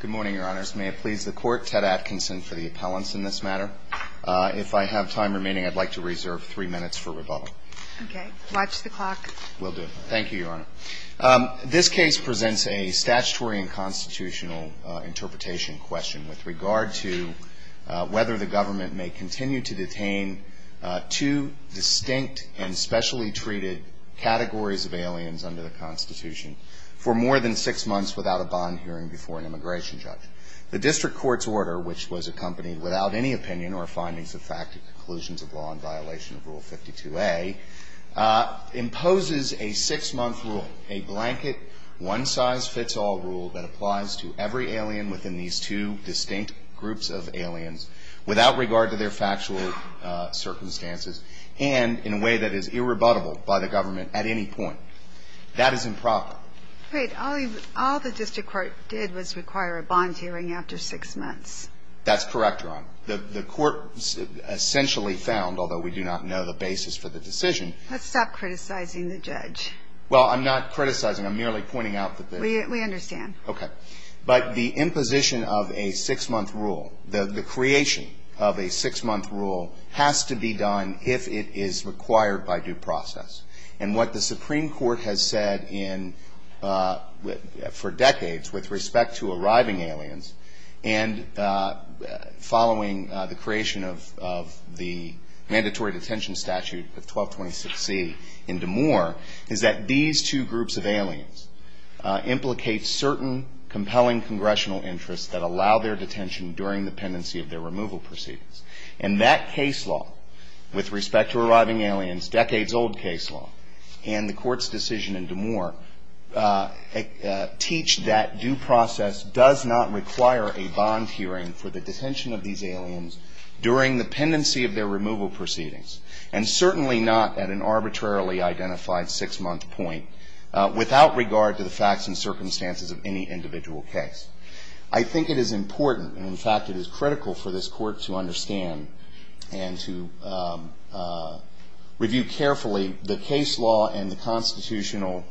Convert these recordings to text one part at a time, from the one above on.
Good morning, Your Honors. May it please the Court, Ted Atkinson for the appellants in this matter. If I have time remaining, I'd like to reserve three minutes for rebuttal. Okay. Watch the clock. Will do. Thank you, Your Honor. This case presents a statutory and constitutional interpretation question with regard to whether the government may continue to detain two distinct and specially treated categories of aliens under the Constitution for more than six months without a bond hearing before an immigration judge. The district court's order, which was accompanied without any opinion or findings of fact to conclusions of law in violation of Rule 52A, imposes a six-month rule, a blanket, one-size-fits-all rule that applies to every alien within these two distinct groups of aliens without regard to their factual circumstances and in a way that is irrebuttable by the government at any point. That is improper. All the district court did was require a bond hearing after six months. That's correct, Your Honor. The court essentially found, although we do not know the basis for the decision Let's stop criticizing the judge. Well, I'm not criticizing. I'm merely pointing out that the We understand. Okay. But the imposition of a six-month rule, the creation of a six-month rule has to be done if it is required by due process. And what the Supreme Court has said for decades with respect to arriving aliens and following the creation of the mandatory detention statute of 1226C in Des Moines is that these two groups of aliens implicate certain compelling congressional interests that allow their detention during the pendency of their removal proceedings. And that case law with respect to arriving aliens, decades-old case law and the court's decision in Des Moines teach that due process does not require a bond hearing for the detention of these aliens during the pendency of their removal proceedings and certainly not at an arbitrarily identified six-month point without regard to the facts and circumstances of any individual case. I think it is important and, in fact, it is critical for this court to understand and to review carefully the case law and the constitutional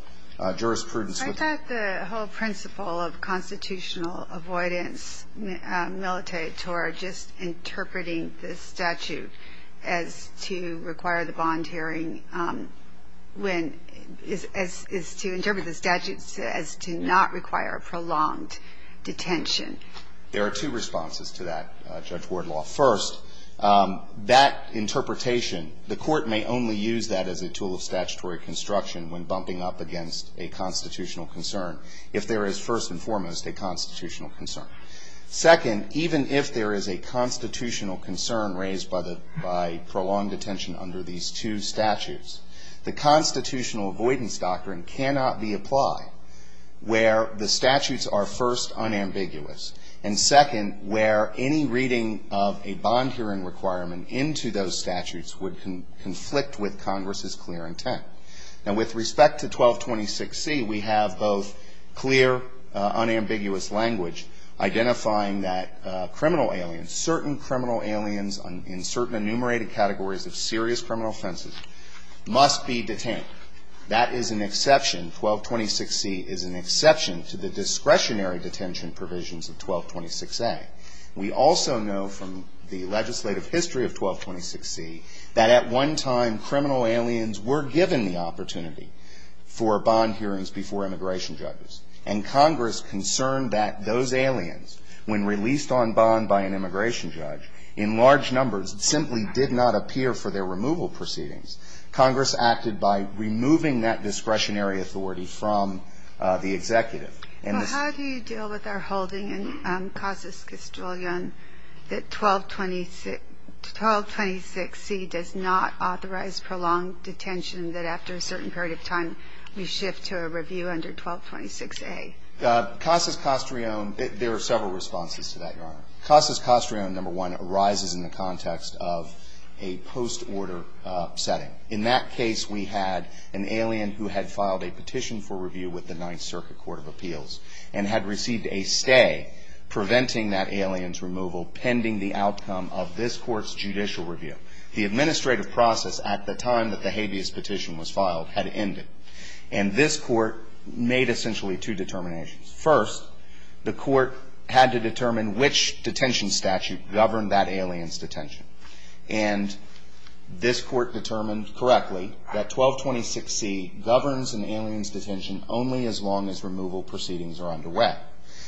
jurisprudence. I thought the whole principle of constitutional avoidance militator just interpreting this statute as to require the bond hearing is to interpret the statute as to not require a prolonged detention. There are two responses to that, Judge Wardlaw. First, that interpretation, the court may only use that as a tool of statutory construction when bumping up against a constitutional concern if there is first and foremost a constitutional concern. Second, even if there is a constitutional concern raised by prolonged detention under these two statutes, the constitutional avoidance doctrine cannot be applied where the statutes are first unambiguous and, second, where any reading of a bond hearing requirement into those statutes would conflict with Congress's clear intent. Now, with respect to 1226C, we have both clear, unambiguous language identifying that criminal aliens, certain criminal aliens in certain enumerated categories of serious criminal offenses must be detained. That is an exception. 1226C is an exception to the discretionary detention provisions of 1226A. We also know from the legislative history of 1226C that at one time criminal aliens were given the opportunity for bond hearings before immigration judges, and Congress concerned that those aliens, when released on bond by an immigration judge, in large numbers simply did not appear for their removal proceedings. Congress acted by removing that discretionary authority from the executive. Well, how do you deal with our holding in Casas Castrillon that 1226C does not authorize prolonged detention, that after a certain period of time we shift to a review under 1226A? Casas Castrillon, there are several responses to that, Your Honor. Casas Castrillon, number one, arises in the context of a post-order setting. In that case, we had an alien who had filed a petition for review with the Ninth Circuit Court of Appeals and had received a stay preventing that alien's removal pending the outcome of this court's judicial review. The administrative process at the time that the habeas petition was filed had ended, and this court made essentially two determinations. First, the court had to determine which detention statute governed that alien's detention. And this court determined correctly that 1226C governs an alien's detention only as long as removal proceedings are underway.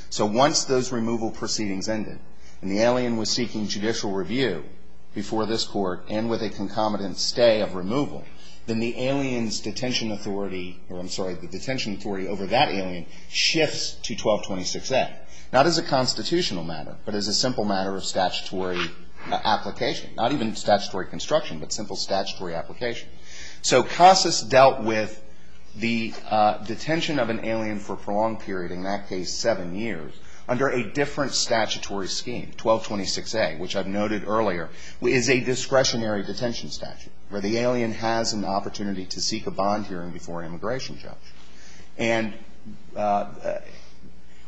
So once those removal proceedings ended and the alien was seeking judicial review before this court and with a concomitant stay of removal, then the alien's detention authority, or I'm sorry, the detention authority over that alien shifts to 1226A. Not as a constitutional matter, but as a simple matter of statutory application. Not even statutory construction, but simple statutory application. So Casas dealt with the detention of an alien for a prolonged period, in that case seven years, under a different statutory scheme. 1226A, which I've noted earlier, is a discretionary detention statute where the alien has an opportunity to seek a bond hearing before an immigration judge. And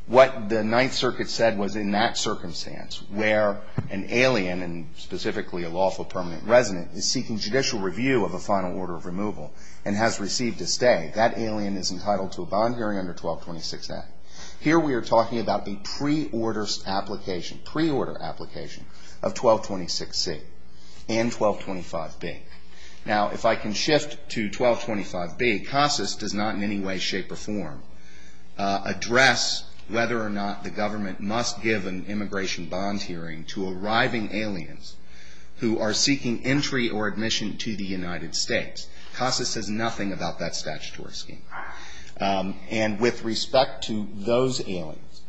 what the Ninth Circuit said was in that circumstance, where an alien, and specifically a lawful permanent resident, is seeking judicial review of a final order of removal and has received a stay, that alien is entitled to a bond hearing under 1226A. Here we are talking about the pre-order application of 1226C and 1225B. Now, if I can shift to 1225B, Casas does not in any way, shape, or form, address whether or not the government must give an immigration bond hearing to arriving aliens who are seeking entry or admission to the United States. Casas says nothing about that statutory scheme. And with respect to those aliens,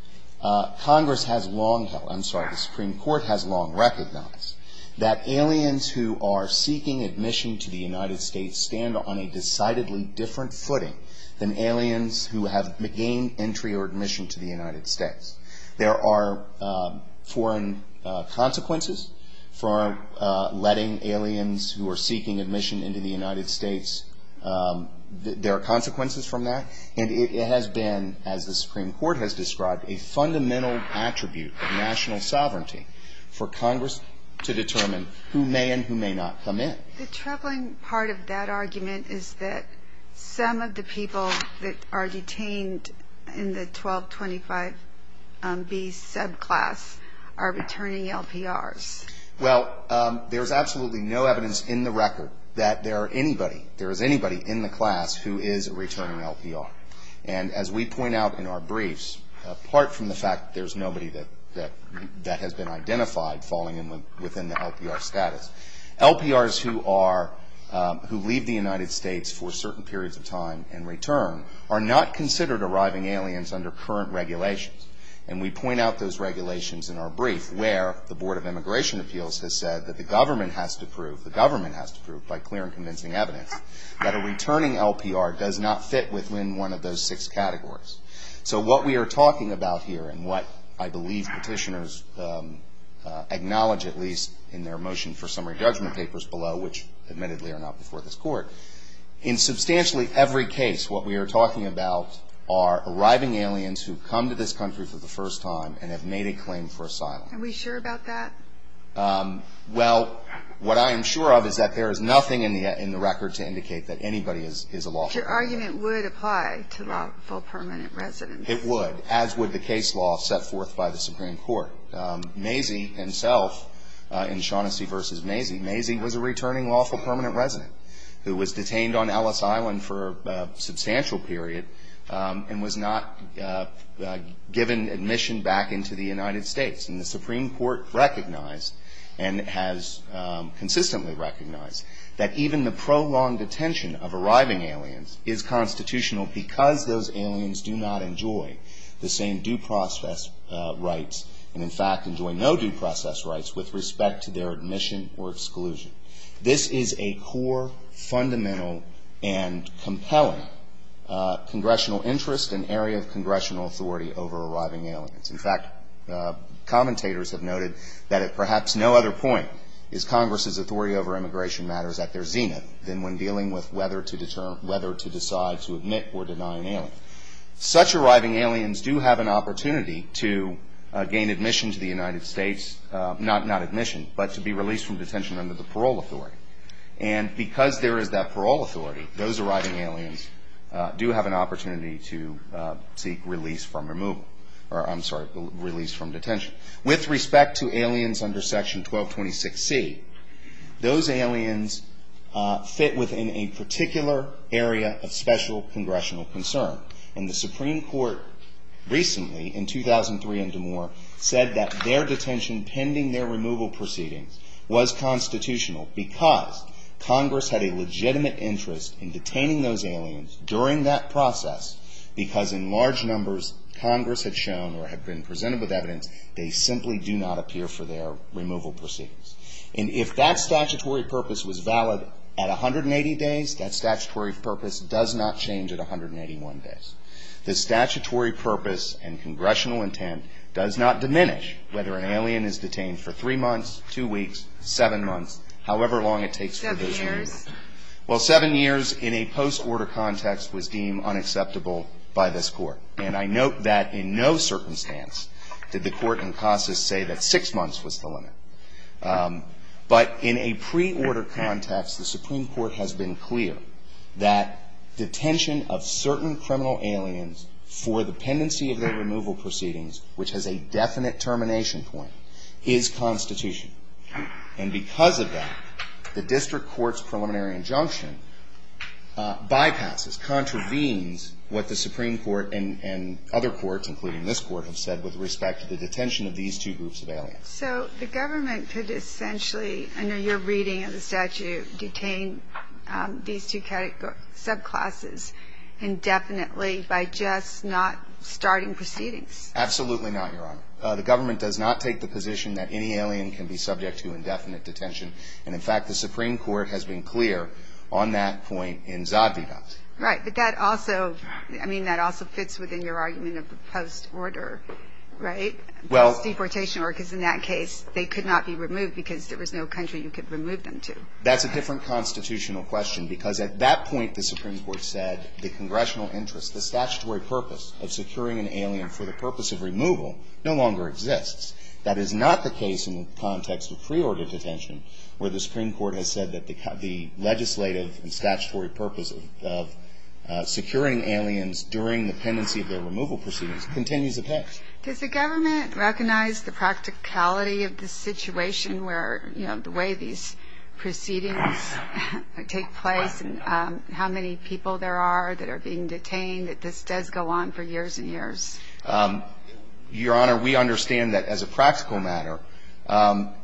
Congress has long held, I'm sorry, the Supreme Court has long recognized that aliens who are seeking admission to the United States stand on a decidedly different footing than aliens who have gained entry or admission to the United States. There are foreign consequences for letting aliens who are seeking admission into the United States. There are consequences from that. And it has been, as the Supreme Court has described, a fundamental attribute of national sovereignty for Congress to determine who may and who may not come in. The troubling part of that argument is that some of the people that are detained in the 1225B subclass are returning LPRs. Well, there's absolutely no evidence in the record that there are anybody, there is anybody in the class who is a returning LPR. And as we point out in our briefs, apart from the fact that there's nobody that has been identified falling within the LPR status, LPRs who leave the United States for certain periods of time and return are not considered arriving aliens under current regulations. And we point out those regulations in our brief where the Board of Immigration Appeals has said that the government has to prove, the government has to prove by clear and convincing evidence, that a returning LPR does not fit within one of those six categories. So what we are talking about here and what I believe petitioners acknowledge at least in their motion for summary judgment papers below, which admittedly are not before this court, in substantially every case what we are talking about are arriving aliens who come to this country for the first time and have made a claim for asylum. Are we sure about that? Well, what I am sure of is that there is nothing in the record to indicate that anybody is a lawful permanent resident. But your argument would apply to lawful permanent residents. It would, as would the case law set forth by the Supreme Court. Mazie himself, in Shaughnessy v. Mazie, Mazie was a returning lawful permanent resident who was detained on Ellis Island for a substantial period and was not given admission back into the United States. And the Supreme Court recognized and has consistently recognized that even the prolonged detention of arriving aliens is constitutional because those aliens do not enjoy the same due process rights and in fact enjoy no due process rights with respect to their admission or exclusion. This is a core fundamental and compelling congressional interest and area of congressional authority over arriving aliens. In fact, commentators have noted that at perhaps no other point is Congress's authority over immigration matters at their zenith than when dealing with whether to decide to admit or deny an alien. Such arriving aliens do have an opportunity to gain admission to the United States, not admission, but to be released from detention under the parole authority. And because there is that parole authority, those arriving aliens do have an opportunity to seek release from removal. Or I'm sorry, release from detention. With respect to aliens under Section 1226C, those aliens fit within a particular area of special congressional concern. And the Supreme Court recently in 2003 in Des Moines said that their detention pending their removal proceedings was constitutional because Congress had a legitimate interest in detaining those aliens during that process because in large numbers Congress had shown or had been presented with evidence they simply do not appear for their removal proceedings. And if that statutory purpose was valid at 180 days, that statutory purpose does not change at 181 days. The statutory purpose and congressional intent does not diminish whether an alien is detained for three months, two weeks, seven months, however long it takes for those years. Seven years. Seven years in a post-order context was deemed unacceptable by this Court. And I note that in no circumstance did the Court in Casas say that six months was the limit. But in a pre-order context, the Supreme Court has been clear that detention of certain criminal aliens for the pendency of their removal proceedings, which has a definite termination point, is constitutional. And because of that, the district court's preliminary injunction bypasses, contravenes what the Supreme Court and other courts, including this court, have said with respect to the detention of these two groups of aliens. So the government could essentially, under your reading of the statute, detain these two subclasses indefinitely by just not starting proceedings. Absolutely not, Your Honor. The government does not take the position that any alien can be subject to indefinite detention. And, in fact, the Supreme Court has been clear on that point in Zadvida. Right. But that also, I mean, that also fits within your argument of the post-order, right? Well. Because deportation workers in that case, they could not be removed because there was no country you could remove them to. That's a different constitutional question, because at that point the Supreme Court said the congressional interest, the statutory purpose of securing an alien for the purpose of removal, no longer exists. That is not the case in the context of pre-order detention, where the Supreme Court has said that the legislative and statutory purpose of securing aliens during the pendency of their removal proceedings continues at hand. Does the government recognize the practicality of this situation where, you know, the way these proceedings take place and how many people there are that are being detained, that this does go on for years and years? Your Honor, we understand that as a practical matter,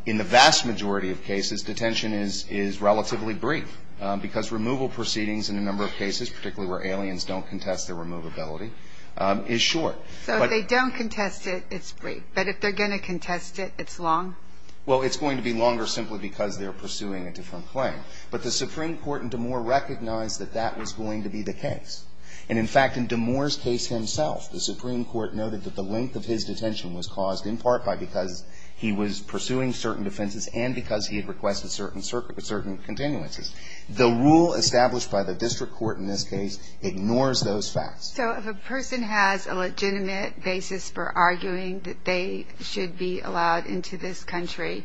in the vast majority of cases, detention is relatively brief, because removal proceedings in a number of cases, particularly where aliens don't contest their removability, is short. So if they don't contest it, it's brief. But if they're going to contest it, it's long? Well, it's going to be longer simply because they're pursuing a different claim. But the Supreme Court in Damore recognized that that was going to be the case. And in fact, in Damore's case himself, the Supreme Court noted that the length of his detention was caused in part by because he was pursuing certain defenses and because he had requested certain continuances. The rule established by the district court in this case ignores those facts. So if a person has a legitimate basis for arguing that they should be allowed into this country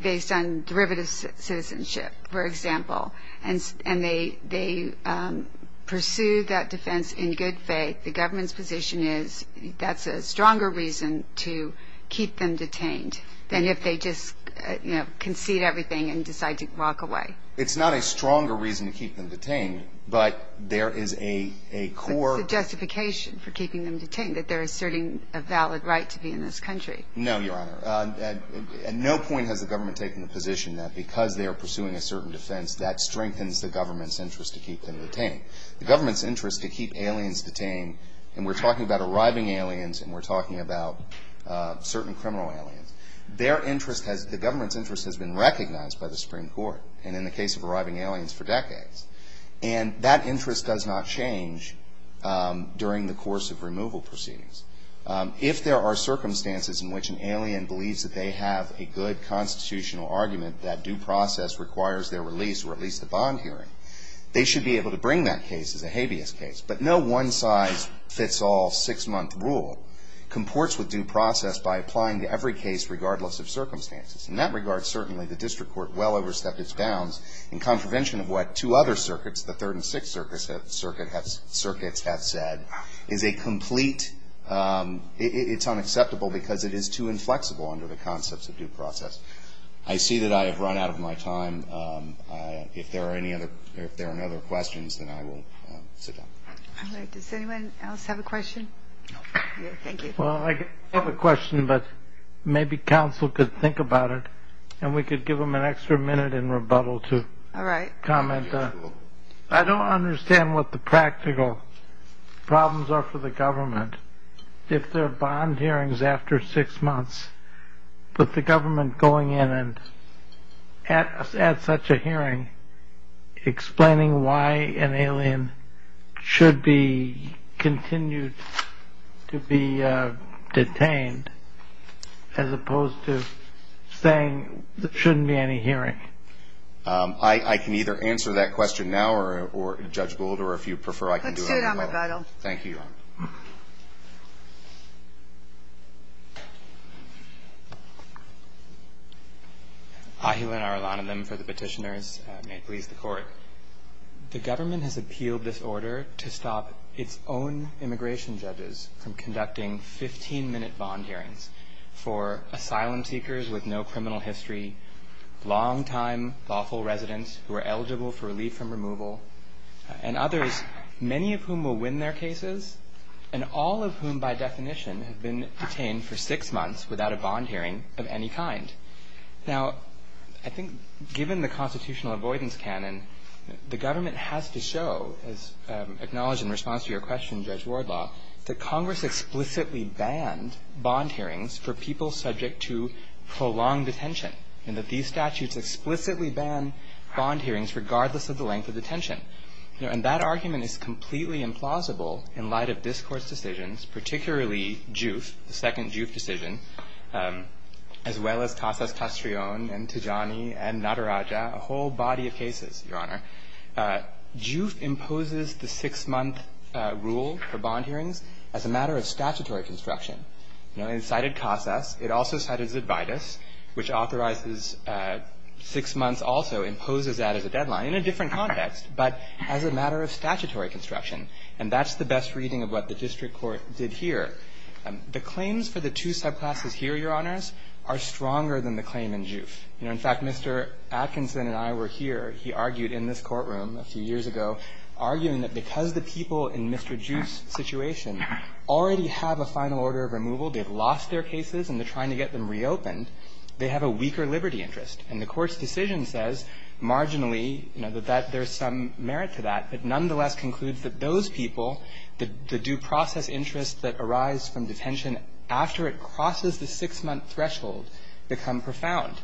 based on derivative citizenship, for example, and they pursue that defense in good faith, the government's position is that's a stronger reason to keep them detained than if they just concede everything and decide to walk away. It's not a stronger reason to keep them detained, but there is a core... It's a justification for keeping them detained, that they're asserting a valid right to be in this country. No, Your Honor. At no point has the government taken the position that because they are pursuing a certain defense, that strengthens the government's interest to keep them detained. The government's interest to keep aliens detained, and we're talking about arriving aliens and we're talking about certain criminal aliens, the government's interest has been recognized by the Supreme Court and in the case of arriving aliens for decades. And that interest does not change during the course of removal proceedings. If there are circumstances in which an alien believes that they have a good constitutional argument that due process requires their release or at least a bond hearing, they should be able to bring that case as a habeas case. But no one-size-fits-all six-month rule comports with due process by applying to every case regardless of circumstances. In that regard, certainly, the district court well overstepped its bounds in contravention of what two other circuits, the Third and Sixth Circuits, have said, is a complete... It's unacceptable because it is too inflexible under the concepts of due process. I see that I have run out of my time. If there are no other questions, then I will sit down. All right. Does anyone else have a question? No. Thank you. Well, I have a question, but maybe counsel could think about it and we could give them an extra minute in rebuttal to comment. All right. I don't understand what the practical problems are for the government. If there are bond hearings after six months, with the government going in and at such a hearing, explaining why an alien should be continued to be detained as opposed to saying there shouldn't be any hearing. I can either answer that question now or, Judge Gould, or if you prefer, I can do it. Let's do it on rebuttal. Thank you, Your Honor. Ahilan Arulananam for the petitioners. May it please the Court. The government has appealed this order to stop its own immigration judges from conducting 15-minute bond hearings for asylum seekers with no criminal history, long-time lawful residents who are eligible for relief from removal, and others, many of whom will win their cases and all of whom by definition have been detained for six months without a bond hearing of any kind. Now, I think given the constitutional avoidance canon, the government has to show, as acknowledged in response to your question, Judge Wardlaw, that Congress explicitly banned bond hearings for people subject to prolonged detention and that these statutes explicitly ban bond hearings regardless of the length of detention. And that argument is completely implausible in light of this Court's decisions, particularly JUF, the second JUF decision, as well as Casas Castrillon and Tijani and Nadaraja, a whole body of cases, Your Honor. JUF imposes the six-month rule for bond hearings as a matter of statutory construction. It cited Casas. It also cited Zidvitas, which authorizes six months, also imposes that as a deadline in a different context, but as a matter of statutory construction. And that's the best reading of what the district court did here. The claims for the two subclasses here, Your Honors, are stronger than the claim in JUF. You know, in fact, Mr. Atkinson and I were here. He argued in this courtroom a few years ago, arguing that because the people in Mr. JUF's situation already have a final order of removal, they've lost their cases and they're trying to get them reopened, they have a weaker liberty interest. And the Court's decision says marginally, you know, that there's some merit to that, but nonetheless concludes that those people, the due process interest that arise from detention after it crosses the six-month threshold, become profound.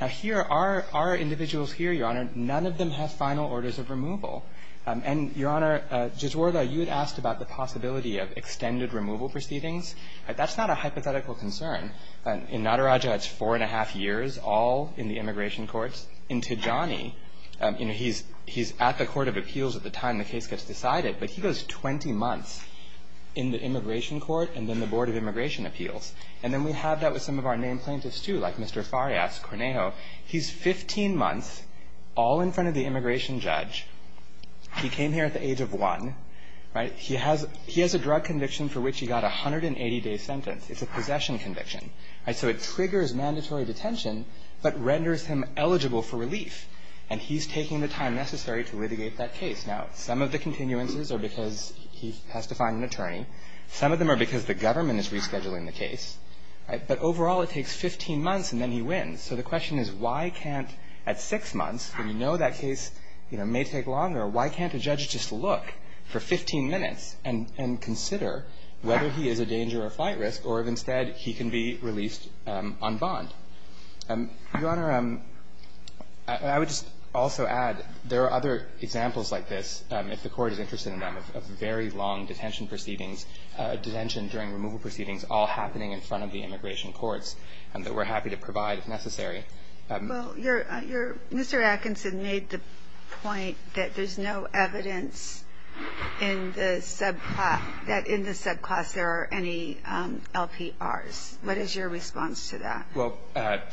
Now, here are individuals here, Your Honor, none of them have final orders of removal. And, Your Honor, Judge Wardau, you had asked about the possibility of extended removal proceedings. That's not a hypothetical concern. In Nataraja, it's four and a half years, all in the immigration courts. In Tijani, you know, he's at the Court of Appeals at the time the case gets decided, but he goes 20 months in the immigration court and then the Board of Immigration Appeals. And then we have that with some of our named plaintiffs, too, like Mr. Farias, Cornejo. He's 15 months, all in front of the immigration judge. He came here at the age of one, right? He has a drug conviction for which he got a 180-day sentence. It's a possession conviction, right? So it triggers mandatory detention but renders him eligible for relief. And he's taking the time necessary to litigate that case. Now, some of the continuances are because he has to find an attorney. Some of them are because the government is rescheduling the case, right? But overall, it takes 15 months and then he wins. So the question is, why can't at six months, when you know that case, you know, may take longer, why can't a judge just look for 15 minutes and consider whether he is a danger or flight risk or if instead he can be released on bond? Your Honor, I would just also add, there are other examples like this, if the Court is interested in them, of very long detention proceedings, detention during removal proceedings all happening in front of the immigration courts that we're happy to provide if necessary. Well, you're Mr. Atkinson made the point that there's no evidence in the subclass that there are any LPRs. What is your response to that? Well,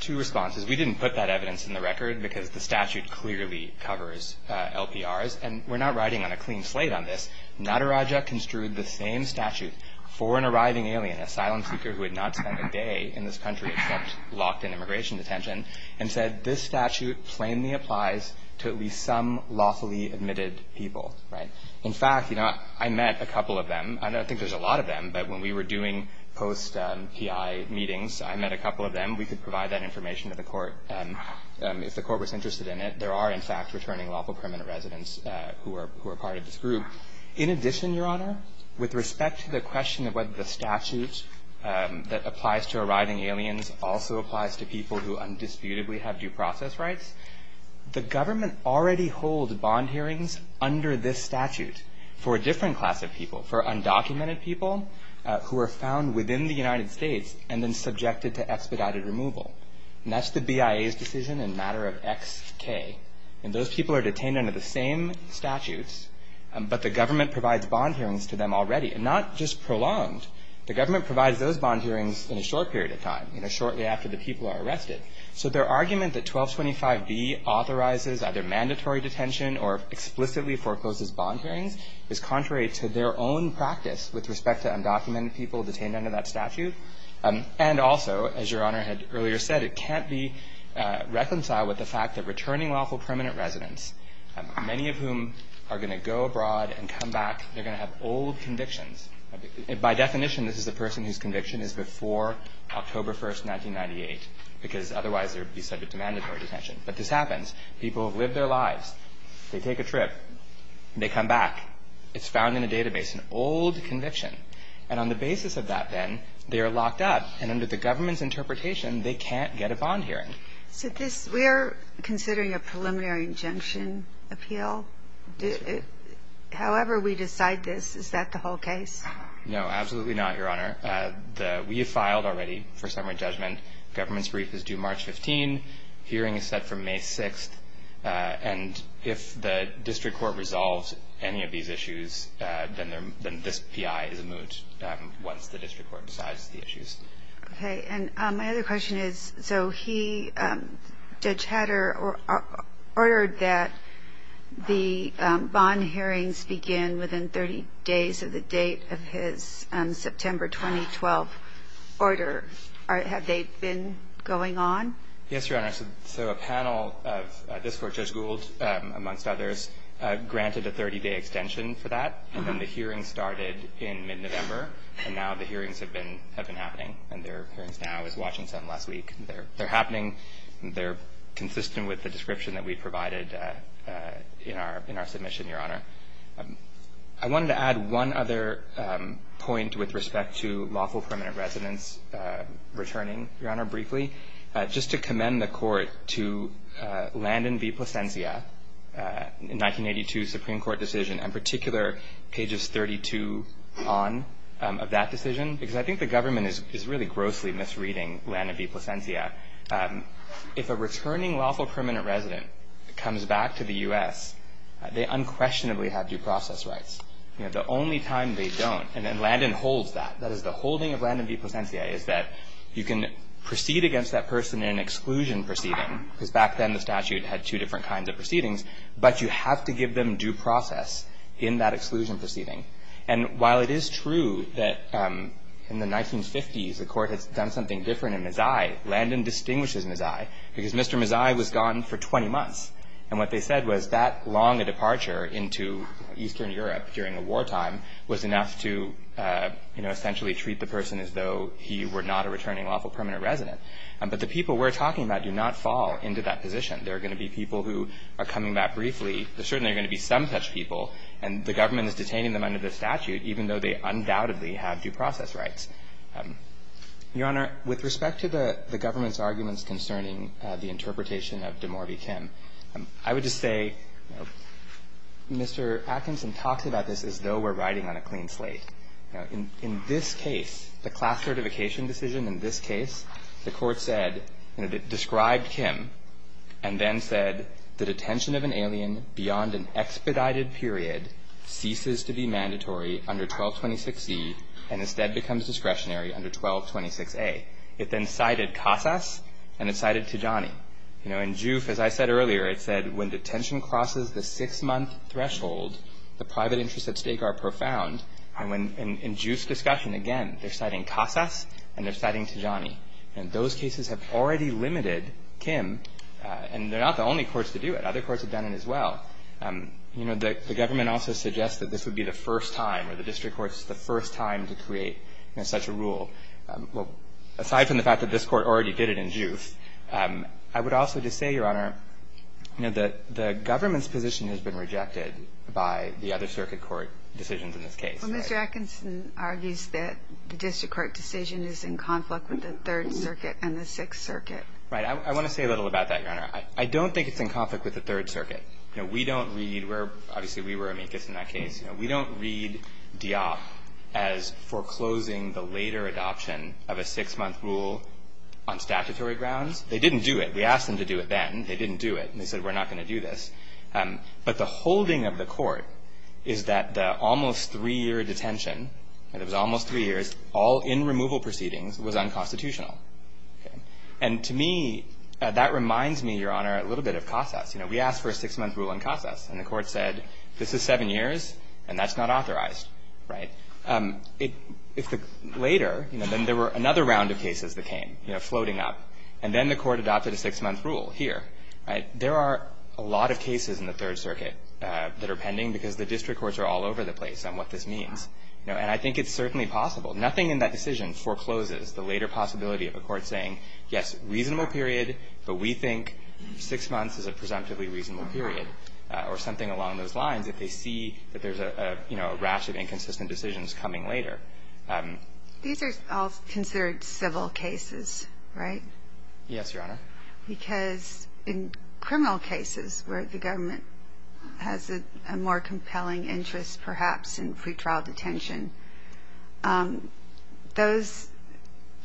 two responses. We didn't put that evidence in the record because the statute clearly covers LPRs. And we're not riding on a clean slate on this. Nadarajah construed the same statute for an arriving alien, an asylum seeker who had not spent a day in this country except locked in immigration detention, and said, this statute plainly applies to at least some lawfully admitted people, right? In fact, you know, I met a couple of them. I don't think there's a lot of them, but when we were doing post-PI meetings, I met a couple of them. We could provide that information to the Court if the Court was interested in it. There are, in fact, returning lawful permanent residents who are part of this group. In addition, Your Honor, with respect to the question of whether the statute that applies to arriving aliens also applies to people who undisputedly have due process rights, the government already holds bond hearings under this statute for a different class of people, for undocumented people who are found within the United States and then subjected to expedited removal. And that's the BIA's decision in a matter of X, K. And those people are detained under the same statutes, but the government provides bond hearings to them already, and not just prolonged. The government provides those bond hearings in a short period of time, you know, shortly after the people are arrested. So their argument that 1225B authorizes either mandatory detention or explicitly forecloses bond hearings is contrary to their own practice with respect to undocumented people detained under that statute. And also, as Your Honor had earlier said, it can't be reconciled with the fact that returning lawful permanent residents, many of whom are going to go abroad and come back, they're going to have old convictions. By definition, this is the person whose conviction is before October 1st, 1998, because otherwise they would be subject to mandatory detention. But this happens. People have lived their lives. They take a trip. They come back. It's found in a database, an old conviction. And on the basis of that, then, they are locked up, and under the government's interpretation, they can't get a bond hearing. So this we're considering a preliminary injunction appeal. However we decide this, is that the whole case? No, absolutely not, Your Honor. We have filed already for summary judgment. Government's brief is due March 15th. Hearing is set for May 6th. And if the district court resolves any of these issues, then this P.I. is moot once the district court decides the issues. Okay. And my other question is, so he, Judge Hatter, ordered that the bond hearings begin within 30 days of the date of his September 2012 order. Have they been going on? Yes, Your Honor. So a panel of this court, Judge Gould amongst others, granted a 30-day extension for that. And then the hearing started in mid-November, and now the hearings have been happening. And their appearance now is Washington last week. They're happening. They're consistent with the description that we provided in our submission, Your Honor. I wanted to add one other point with respect to lawful permanent residence returning, Your Honor, briefly. Just to commend the court to Landon v. Plasencia, 1982 Supreme Court decision, in particular pages 32 on of that decision, because I think the government is really grossly misreading Landon v. Plasencia. If a returning lawful permanent resident comes back to the U.S., they unquestionably have due process rights. The only time they don't, and Landon holds that, that is the holding of Landon v. Plasencia, is that you can proceed against that person in an exclusion proceeding, because back then the statute had two different kinds of proceedings, but you have to give them due process in that exclusion proceeding. And while it is true that in the 1950s the court had done something different in Mazzei, Landon distinguishes Mazzei because Mr. Mazzei was gone for 20 months. And what they said was that long a departure into Eastern Europe during a wartime was enough to, you know, essentially treat the person as though he were not a returning lawful permanent resident. But the people we're talking about do not fall into that position. There are going to be people who are coming back briefly. There are certainly going to be some such people, and the government is detaining them under the statute, even though they undoubtedly have due process rights. Your Honor, with respect to the government's arguments concerning the interpretation of DeMaury v. Kim, I would just say, you know, Mr. Atkinson talks about this as though we're riding on a clean slate. You know, in this case, the class certification decision in this case, the court said and it described Kim and then said, The detention of an alien beyond an expedited period ceases to be mandatory under 1226C and instead becomes discretionary under 1226A. It then cited Casas and it cited Tijani. You know, in Juif, as I said earlier, it said when detention crosses the six-month threshold, the private interests at stake are profound. And in Juif's discussion, again, they're citing Casas and they're citing Tijani. And those cases have already limited Kim, and they're not the only courts to do it. Other courts have done it as well. You know, the government also suggests that this would be the first time or the district court's the first time to create, you know, such a rule. Well, aside from the fact that this court already did it in Juif, I would also just say, Your Honor, you know, the government's position has been rejected by the other circuit court decisions in this case. Well, Mr. Atkinson argues that the district court decision is in conflict with the Third Circuit and the Sixth Circuit. Right. I want to say a little about that, Your Honor. I don't think it's in conflict with the Third Circuit. You know, we don't read where – obviously, we were amicus in that case. You know, we don't read Dioff as foreclosing the later adoption of a six-month rule on statutory grounds. They didn't do it. We asked them to do it then. They didn't do it. And they said, we're not going to do this. But the holding of the court is that the almost three-year detention, and it was almost three years, all in removal proceedings, was unconstitutional. Okay. And to me, that reminds me, Your Honor, a little bit of Casas. You know, we asked for a six-month rule in Casas, and the court said, this is seven years, and that's not authorized. Right. If the – later, you know, then there were another round of cases that came, you know, floating up. And then the court adopted a six-month rule here. Right. There are a lot of cases in the Third Circuit that are pending because the district courts are all over the place on what this means. You know, and I think it's certainly possible. Nothing in that decision forecloses the later possibility of a court saying, yes, reasonable period, but we think six months is a presumptively reasonable period, or something along those lines, if they see that there's a, you know, a rash of inconsistent decisions coming later. These are all considered civil cases, right? Yes, Your Honor. Because in criminal cases where the government has a more compelling interest, perhaps, in pretrial detention, those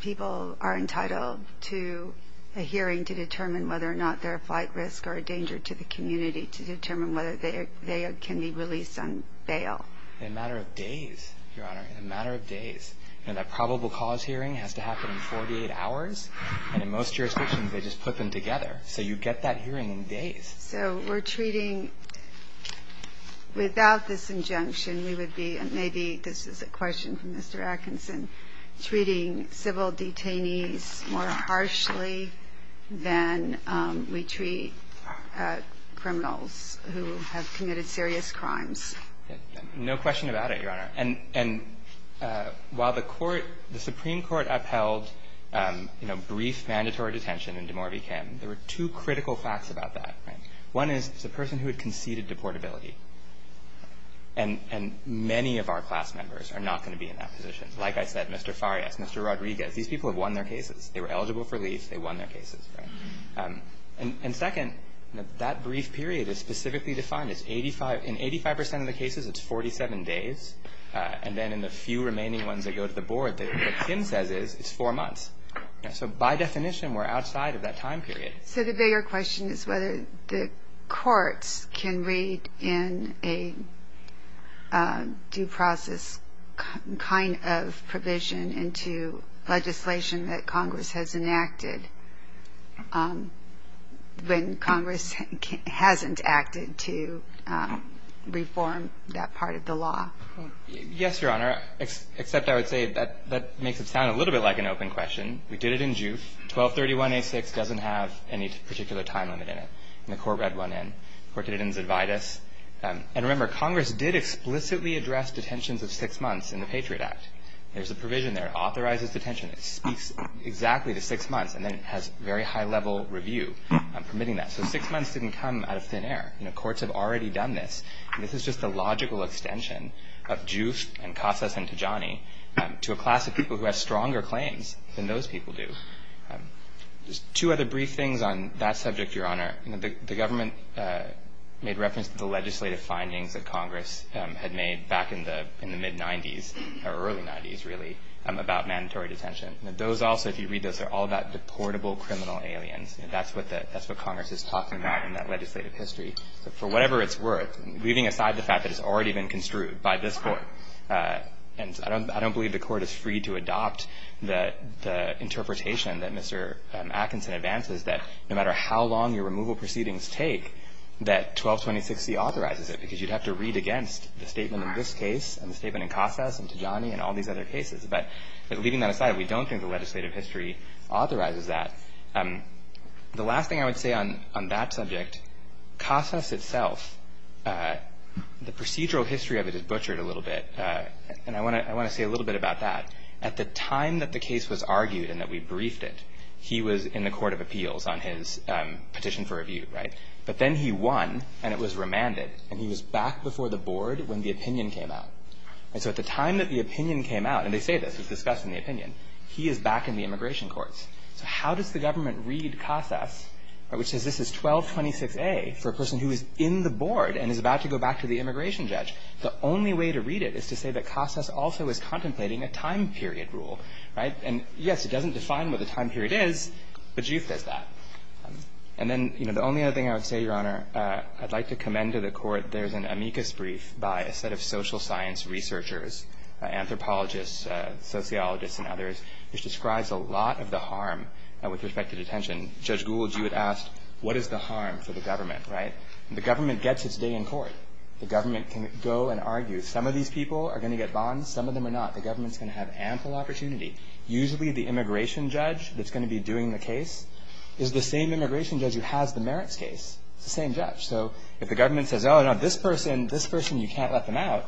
people are entitled to a hearing to determine whether or not they're a flight risk or a danger to the community to determine whether they can be released on bail. In a matter of days, Your Honor, in a matter of days. You know, that probable cause hearing has to happen in 48 hours, and in most jurisdictions, they just put them together. So you get that hearing in days. So we're treating, without this injunction, we would be, and maybe this is a question from Mr. Atkinson, treating civil detainees more harshly than we treat criminals who have committed serious crimes. No question about it, Your Honor. And while the court, the Supreme Court upheld, you know, brief mandatory detention in DeMaury v. Kim, there were two critical facts about that, right? One is it's a person who had conceded deportability. And many of our class members are not going to be in that position. Like I said, Mr. Farias, Mr. Rodriguez, these people have won their cases. They were eligible for leave. They won their cases, right? And second, that brief period is specifically defined as 85. In 85% of the cases, it's 47 days. And then in the few remaining ones that go to the board, what Kim says is it's four months. So by definition, we're outside of that time period. So the bigger question is whether the courts can read in a due process kind of provision into legislation that Congress has enacted when Congress hasn't acted to reform that part of the law. Yes, Your Honor, except I would say that that makes it sound a little bit like an open question. We did it in juve. 1231A6 doesn't have any particular time limit in it. And the court read one in. The court didn't advise us. And remember, Congress did explicitly address detentions of six months in the Patriot Act. There's a provision there. It authorizes detention. It speaks exactly to six months. And then it has very high-level review permitting that. So six months didn't come out of thin air. Courts have already done this. And this is just a logical extension of juve and casas and tijani to a class of people who have stronger claims than those people do. Just two other brief things on that subject, Your Honor. Your Honor, the government made reference to the legislative findings that Congress had made back in the mid-'90s or early-'90s, really, about mandatory detention. Those also, if you read those, are all about deportable criminal aliens. That's what Congress is talking about in that legislative history. For whatever it's worth, leaving aside the fact that it's already been construed by this Court, and I don't believe the Court is free to adopt the interpretation that Mr. Atkinson advances, that no matter how long your removal proceedings take, that 1226C authorizes it because you'd have to read against the statement in this case and the statement in casas and tijani and all these other cases. But leaving that aside, we don't think the legislative history authorizes that. The last thing I would say on that subject, casas itself, the procedural history of it is butchered a little bit. And I want to say a little bit about that. At the time that the case was argued and that we briefed it, he was in the Court of Appeals on his petition for review, right? But then he won, and it was remanded, and he was back before the board when the opinion came out. And so at the time that the opinion came out, and they say this, it's discussed in the opinion, he is back in the immigration courts. So how does the government read casas, which says this is 1226A for a person who is in the board and is about to go back to the immigration judge? The only way to read it is to say that casas also is contemplating a time period rule, right? And, yes, it doesn't define what the time period is, but you fix that. And then, you know, the only other thing I would say, Your Honor, I'd like to commend to the Court there's an amicus brief by a set of social science researchers, anthropologists, sociologists, and others, which describes a lot of the harm with respect to detention. Judge Gould, you had asked, what is the harm for the government, right? The government gets its day in court. The government can go and argue. Some of these people are going to get bonds. Some of them are not. The government's going to have ample opportunity. Usually the immigration judge that's going to be doing the case is the same immigration judge who has the merits case. It's the same judge. So if the government says, Oh, no, this person, this person, you can't let them out,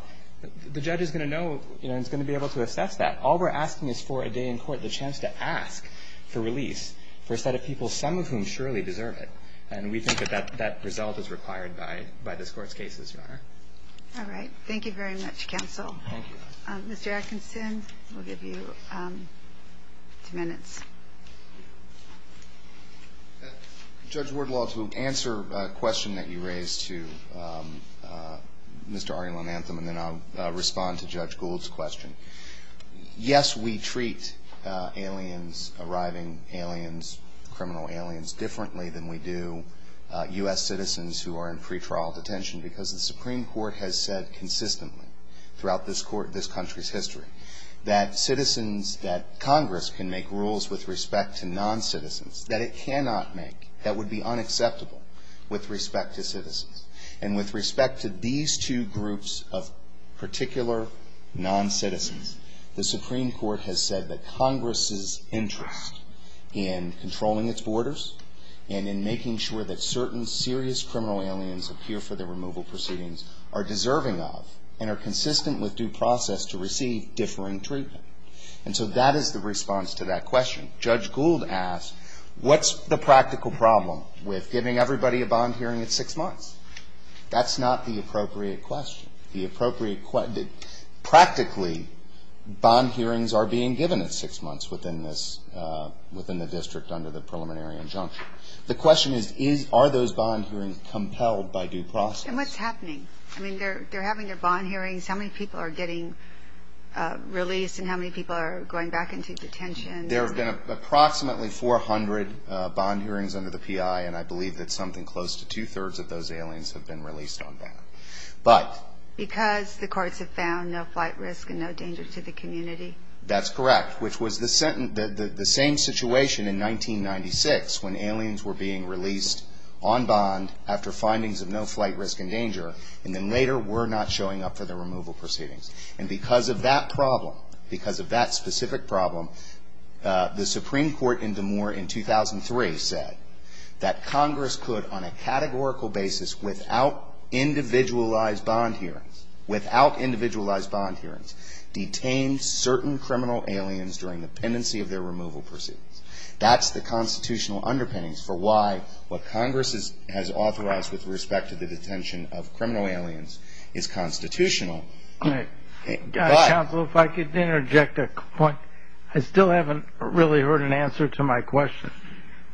the judge is going to know and is going to be able to assess that. All we're asking is for a day in court, the chance to ask for release for a set of people, some of whom surely deserve it. And we think that that result is required by this court's cases, Your Honor. All right. Thank you very much, counsel. Thank you. Mr. Atkinson, we'll give you two minutes. Judge Wardlaw, to answer a question that you raised to Mr. Ariel Amantham, and then I'll respond to Judge Gould's question. Yes, we treat aliens, arriving aliens, criminal aliens differently than we do U.S. citizens who are in pretrial detention because the Supreme Court has said consistently throughout this country's history that citizens, that Congress can make rules with respect to non-citizens, that it cannot make, that would be unacceptable with respect to citizens. And with respect to these two groups of particular non-citizens, the Supreme Court has said that Congress's interest in controlling its borders and in making sure that certain serious criminal aliens appear for the removal proceedings are deserving of and are consistent with due process to receive differing treatment. And so that is the response to that question. Judge Gould asked, what's the practical problem with giving everybody a bond hearing at six months? That's not the appropriate question. Practically, bond hearings are being given at six months within the district under the preliminary injunction. The question is, are those bond hearings compelled by due process? And what's happening? I mean, they're having their bond hearings. How many people are getting released and how many people are going back into detention? There have been approximately 400 bond hearings under the PI, and I believe that something close to two-thirds of those aliens have been released on bond. Because the courts have found no flight risk and no danger to the community? That's correct, which was the same situation in 1996 when aliens were being released on bond after findings of no flight risk and danger, and then later were not showing up for the removal proceedings. And because of that problem, because of that specific problem, the Supreme Court in DeMoore in 2003 said that Congress could, on a categorical basis, without individualized bond hearings, without individualized bond hearings, detain certain criminal aliens during the pendency of their removal proceedings. That's the constitutional underpinnings for why what Congress has authorized with respect to the detention of criminal aliens is constitutional. Counsel, if I could interject a point. I still haven't really heard an answer to my question.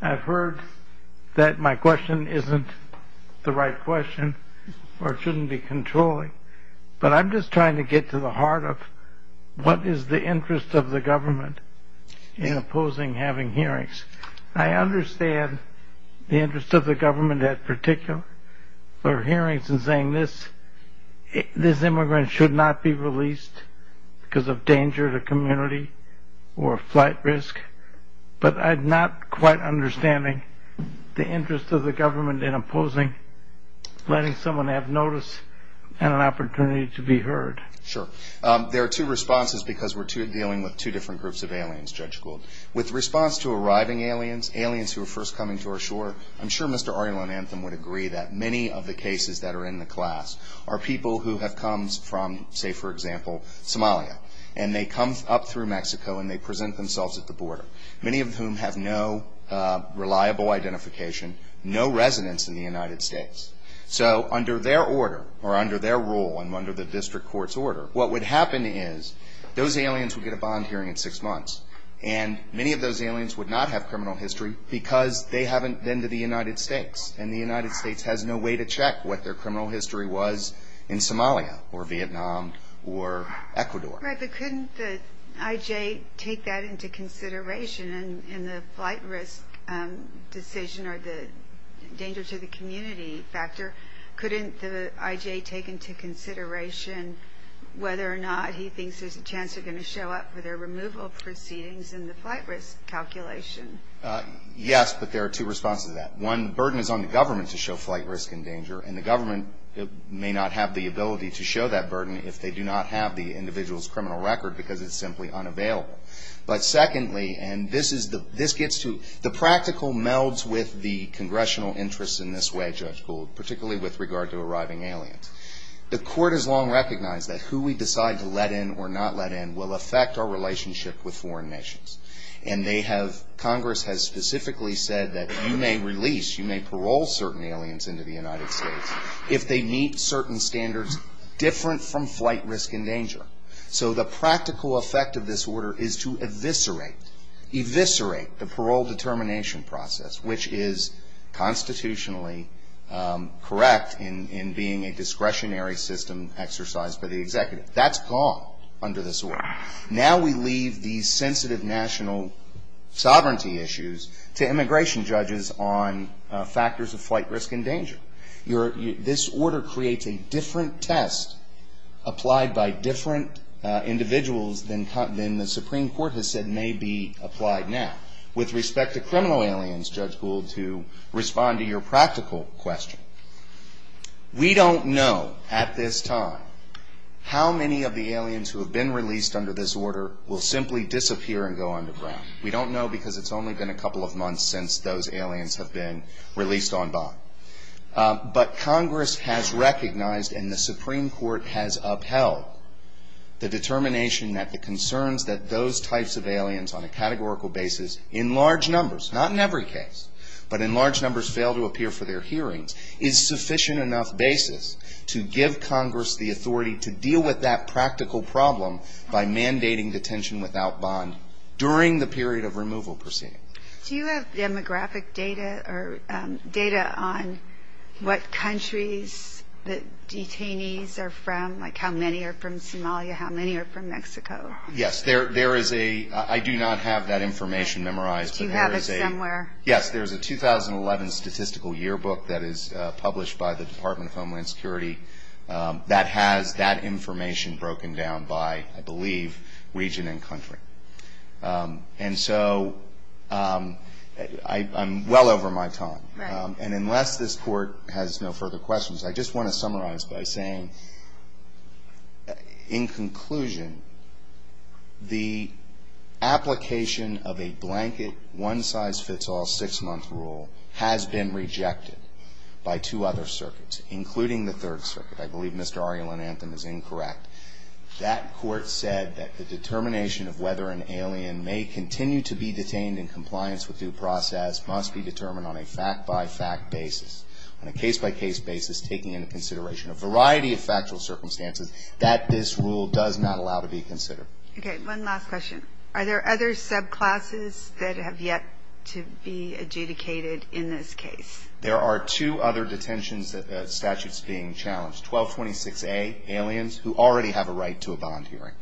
I've heard that my question isn't the right question or shouldn't be controlling, but I'm just trying to get to the heart of what is the interest of the government in opposing having hearings. I understand the interest of the government at particular hearings in saying this immigrant should not be released because of danger to community or flight risk, but I'm not quite understanding the interest of the government in opposing letting someone have notice and an opportunity to be heard. Sure. There are two responses because we're dealing with two different groups of aliens, Judge Gould. With response to arriving aliens, aliens who are first coming to our shore, I'm sure Mr. Ari Lamantham would agree that many of the cases that are in the class are people who have come from, say, for example, Somalia. And they come up through Mexico and they present themselves at the border, many of whom have no reliable identification, no residence in the United States. So under their order or under their rule and under the district court's order, what would happen is those aliens would get a bond hearing in six months and many of those aliens would not have criminal history because they haven't been to the United States and the United States has no way to check what their criminal history was in Somalia or Vietnam or Ecuador. Right, but couldn't the IJ take that into consideration in the flight risk decision or the danger to the community factor? Couldn't the IJ take into consideration whether or not he thinks there's a chance they're going to show up for their removal proceedings in the flight risk calculation? Yes, but there are two responses to that. One, the burden is on the government to show flight risk and danger, and the government may not have the ability to show that burden if they do not have the individual's criminal record because it's simply unavailable. But secondly, and this gets to, the practical melds with the congressional interests in this way, Judge Gould, particularly with regard to arriving aliens. The court has long recognized that who we decide to let in or not let in will affect our relationship with foreign nations, and they have, Congress has specifically said that you may release, you may parole certain aliens into the United States if they meet certain standards different from flight risk and danger. So the practical effect of this order is to eviscerate, eviscerate the parole determination process, which is constitutionally correct in being a discretionary system exercised by the executive. That's gone under this order. Now we leave these sensitive national sovereignty issues to immigration judges on factors of flight risk and danger. This order creates a different test applied by different individuals than the Supreme Court has said may be applied now. With respect to criminal aliens, Judge Gould, to respond to your practical question, we don't know at this time how many of the aliens who have been released under this order will simply disappear and go underground. We don't know because it's only been a couple of months since those aliens have been released on by. But Congress has recognized and the Supreme Court has upheld the determination that the concerns that those types of aliens on a categorical basis in large numbers, not in every case, but in large numbers fail to appear for their hearings, is sufficient enough basis to give Congress the authority to deal with that practical problem by mandating detention without bond during the period of removal proceeding. Do you have demographic data or data on what countries the detainees are from, like how many are from Somalia, how many are from Mexico? Yes, there is a – I do not have that information memorized. Do you have it somewhere? Yes, there's a 2011 statistical yearbook that is published by the Department of Homeland Security that has that information broken down by, I believe, region and country. And so I'm well over my time. And unless this Court has no further questions, I just want to summarize by saying, in conclusion, the application of a blanket, one-size-fits-all, six-month rule has been rejected by two other circuits, including the Third Circuit. I believe Mr. Ariel Anantham is incorrect. That court said that the determination of whether an alien may continue to be detained in compliance with due process must be determined on a fact-by-fact basis, on a case-by-case basis, taking into consideration a variety of factual circumstances that this rule does not allow to be considered. Okay. One last question. Are there other subclasses that have yet to be adjudicated in this case? There are two other detentions statutes being challenged, 1226A, aliens who already have a right to a bond hearing.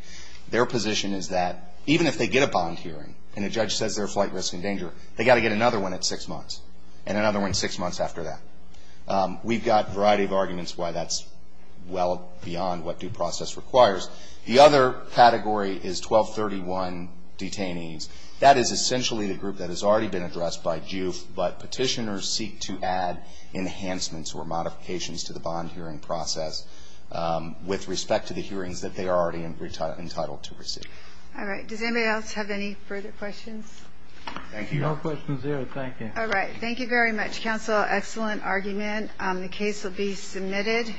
Their position is that even if they get a bond hearing and a judge says they're a flight risk and danger, they've got to get another one at six months and another one six months after that. We've got a variety of arguments why that's well beyond what due process requires. The other category is 1231 detainees. That is essentially the group that has already been addressed by JUF, but petitioners seek to add enhancements or modifications to the bond hearing process with respect to the hearings that they are already entitled to receive. All right. Does anybody else have any further questions? Thank you. No questions here. Thank you. All right. Thank you very much, counsel. Excellent argument. The case will be submitted.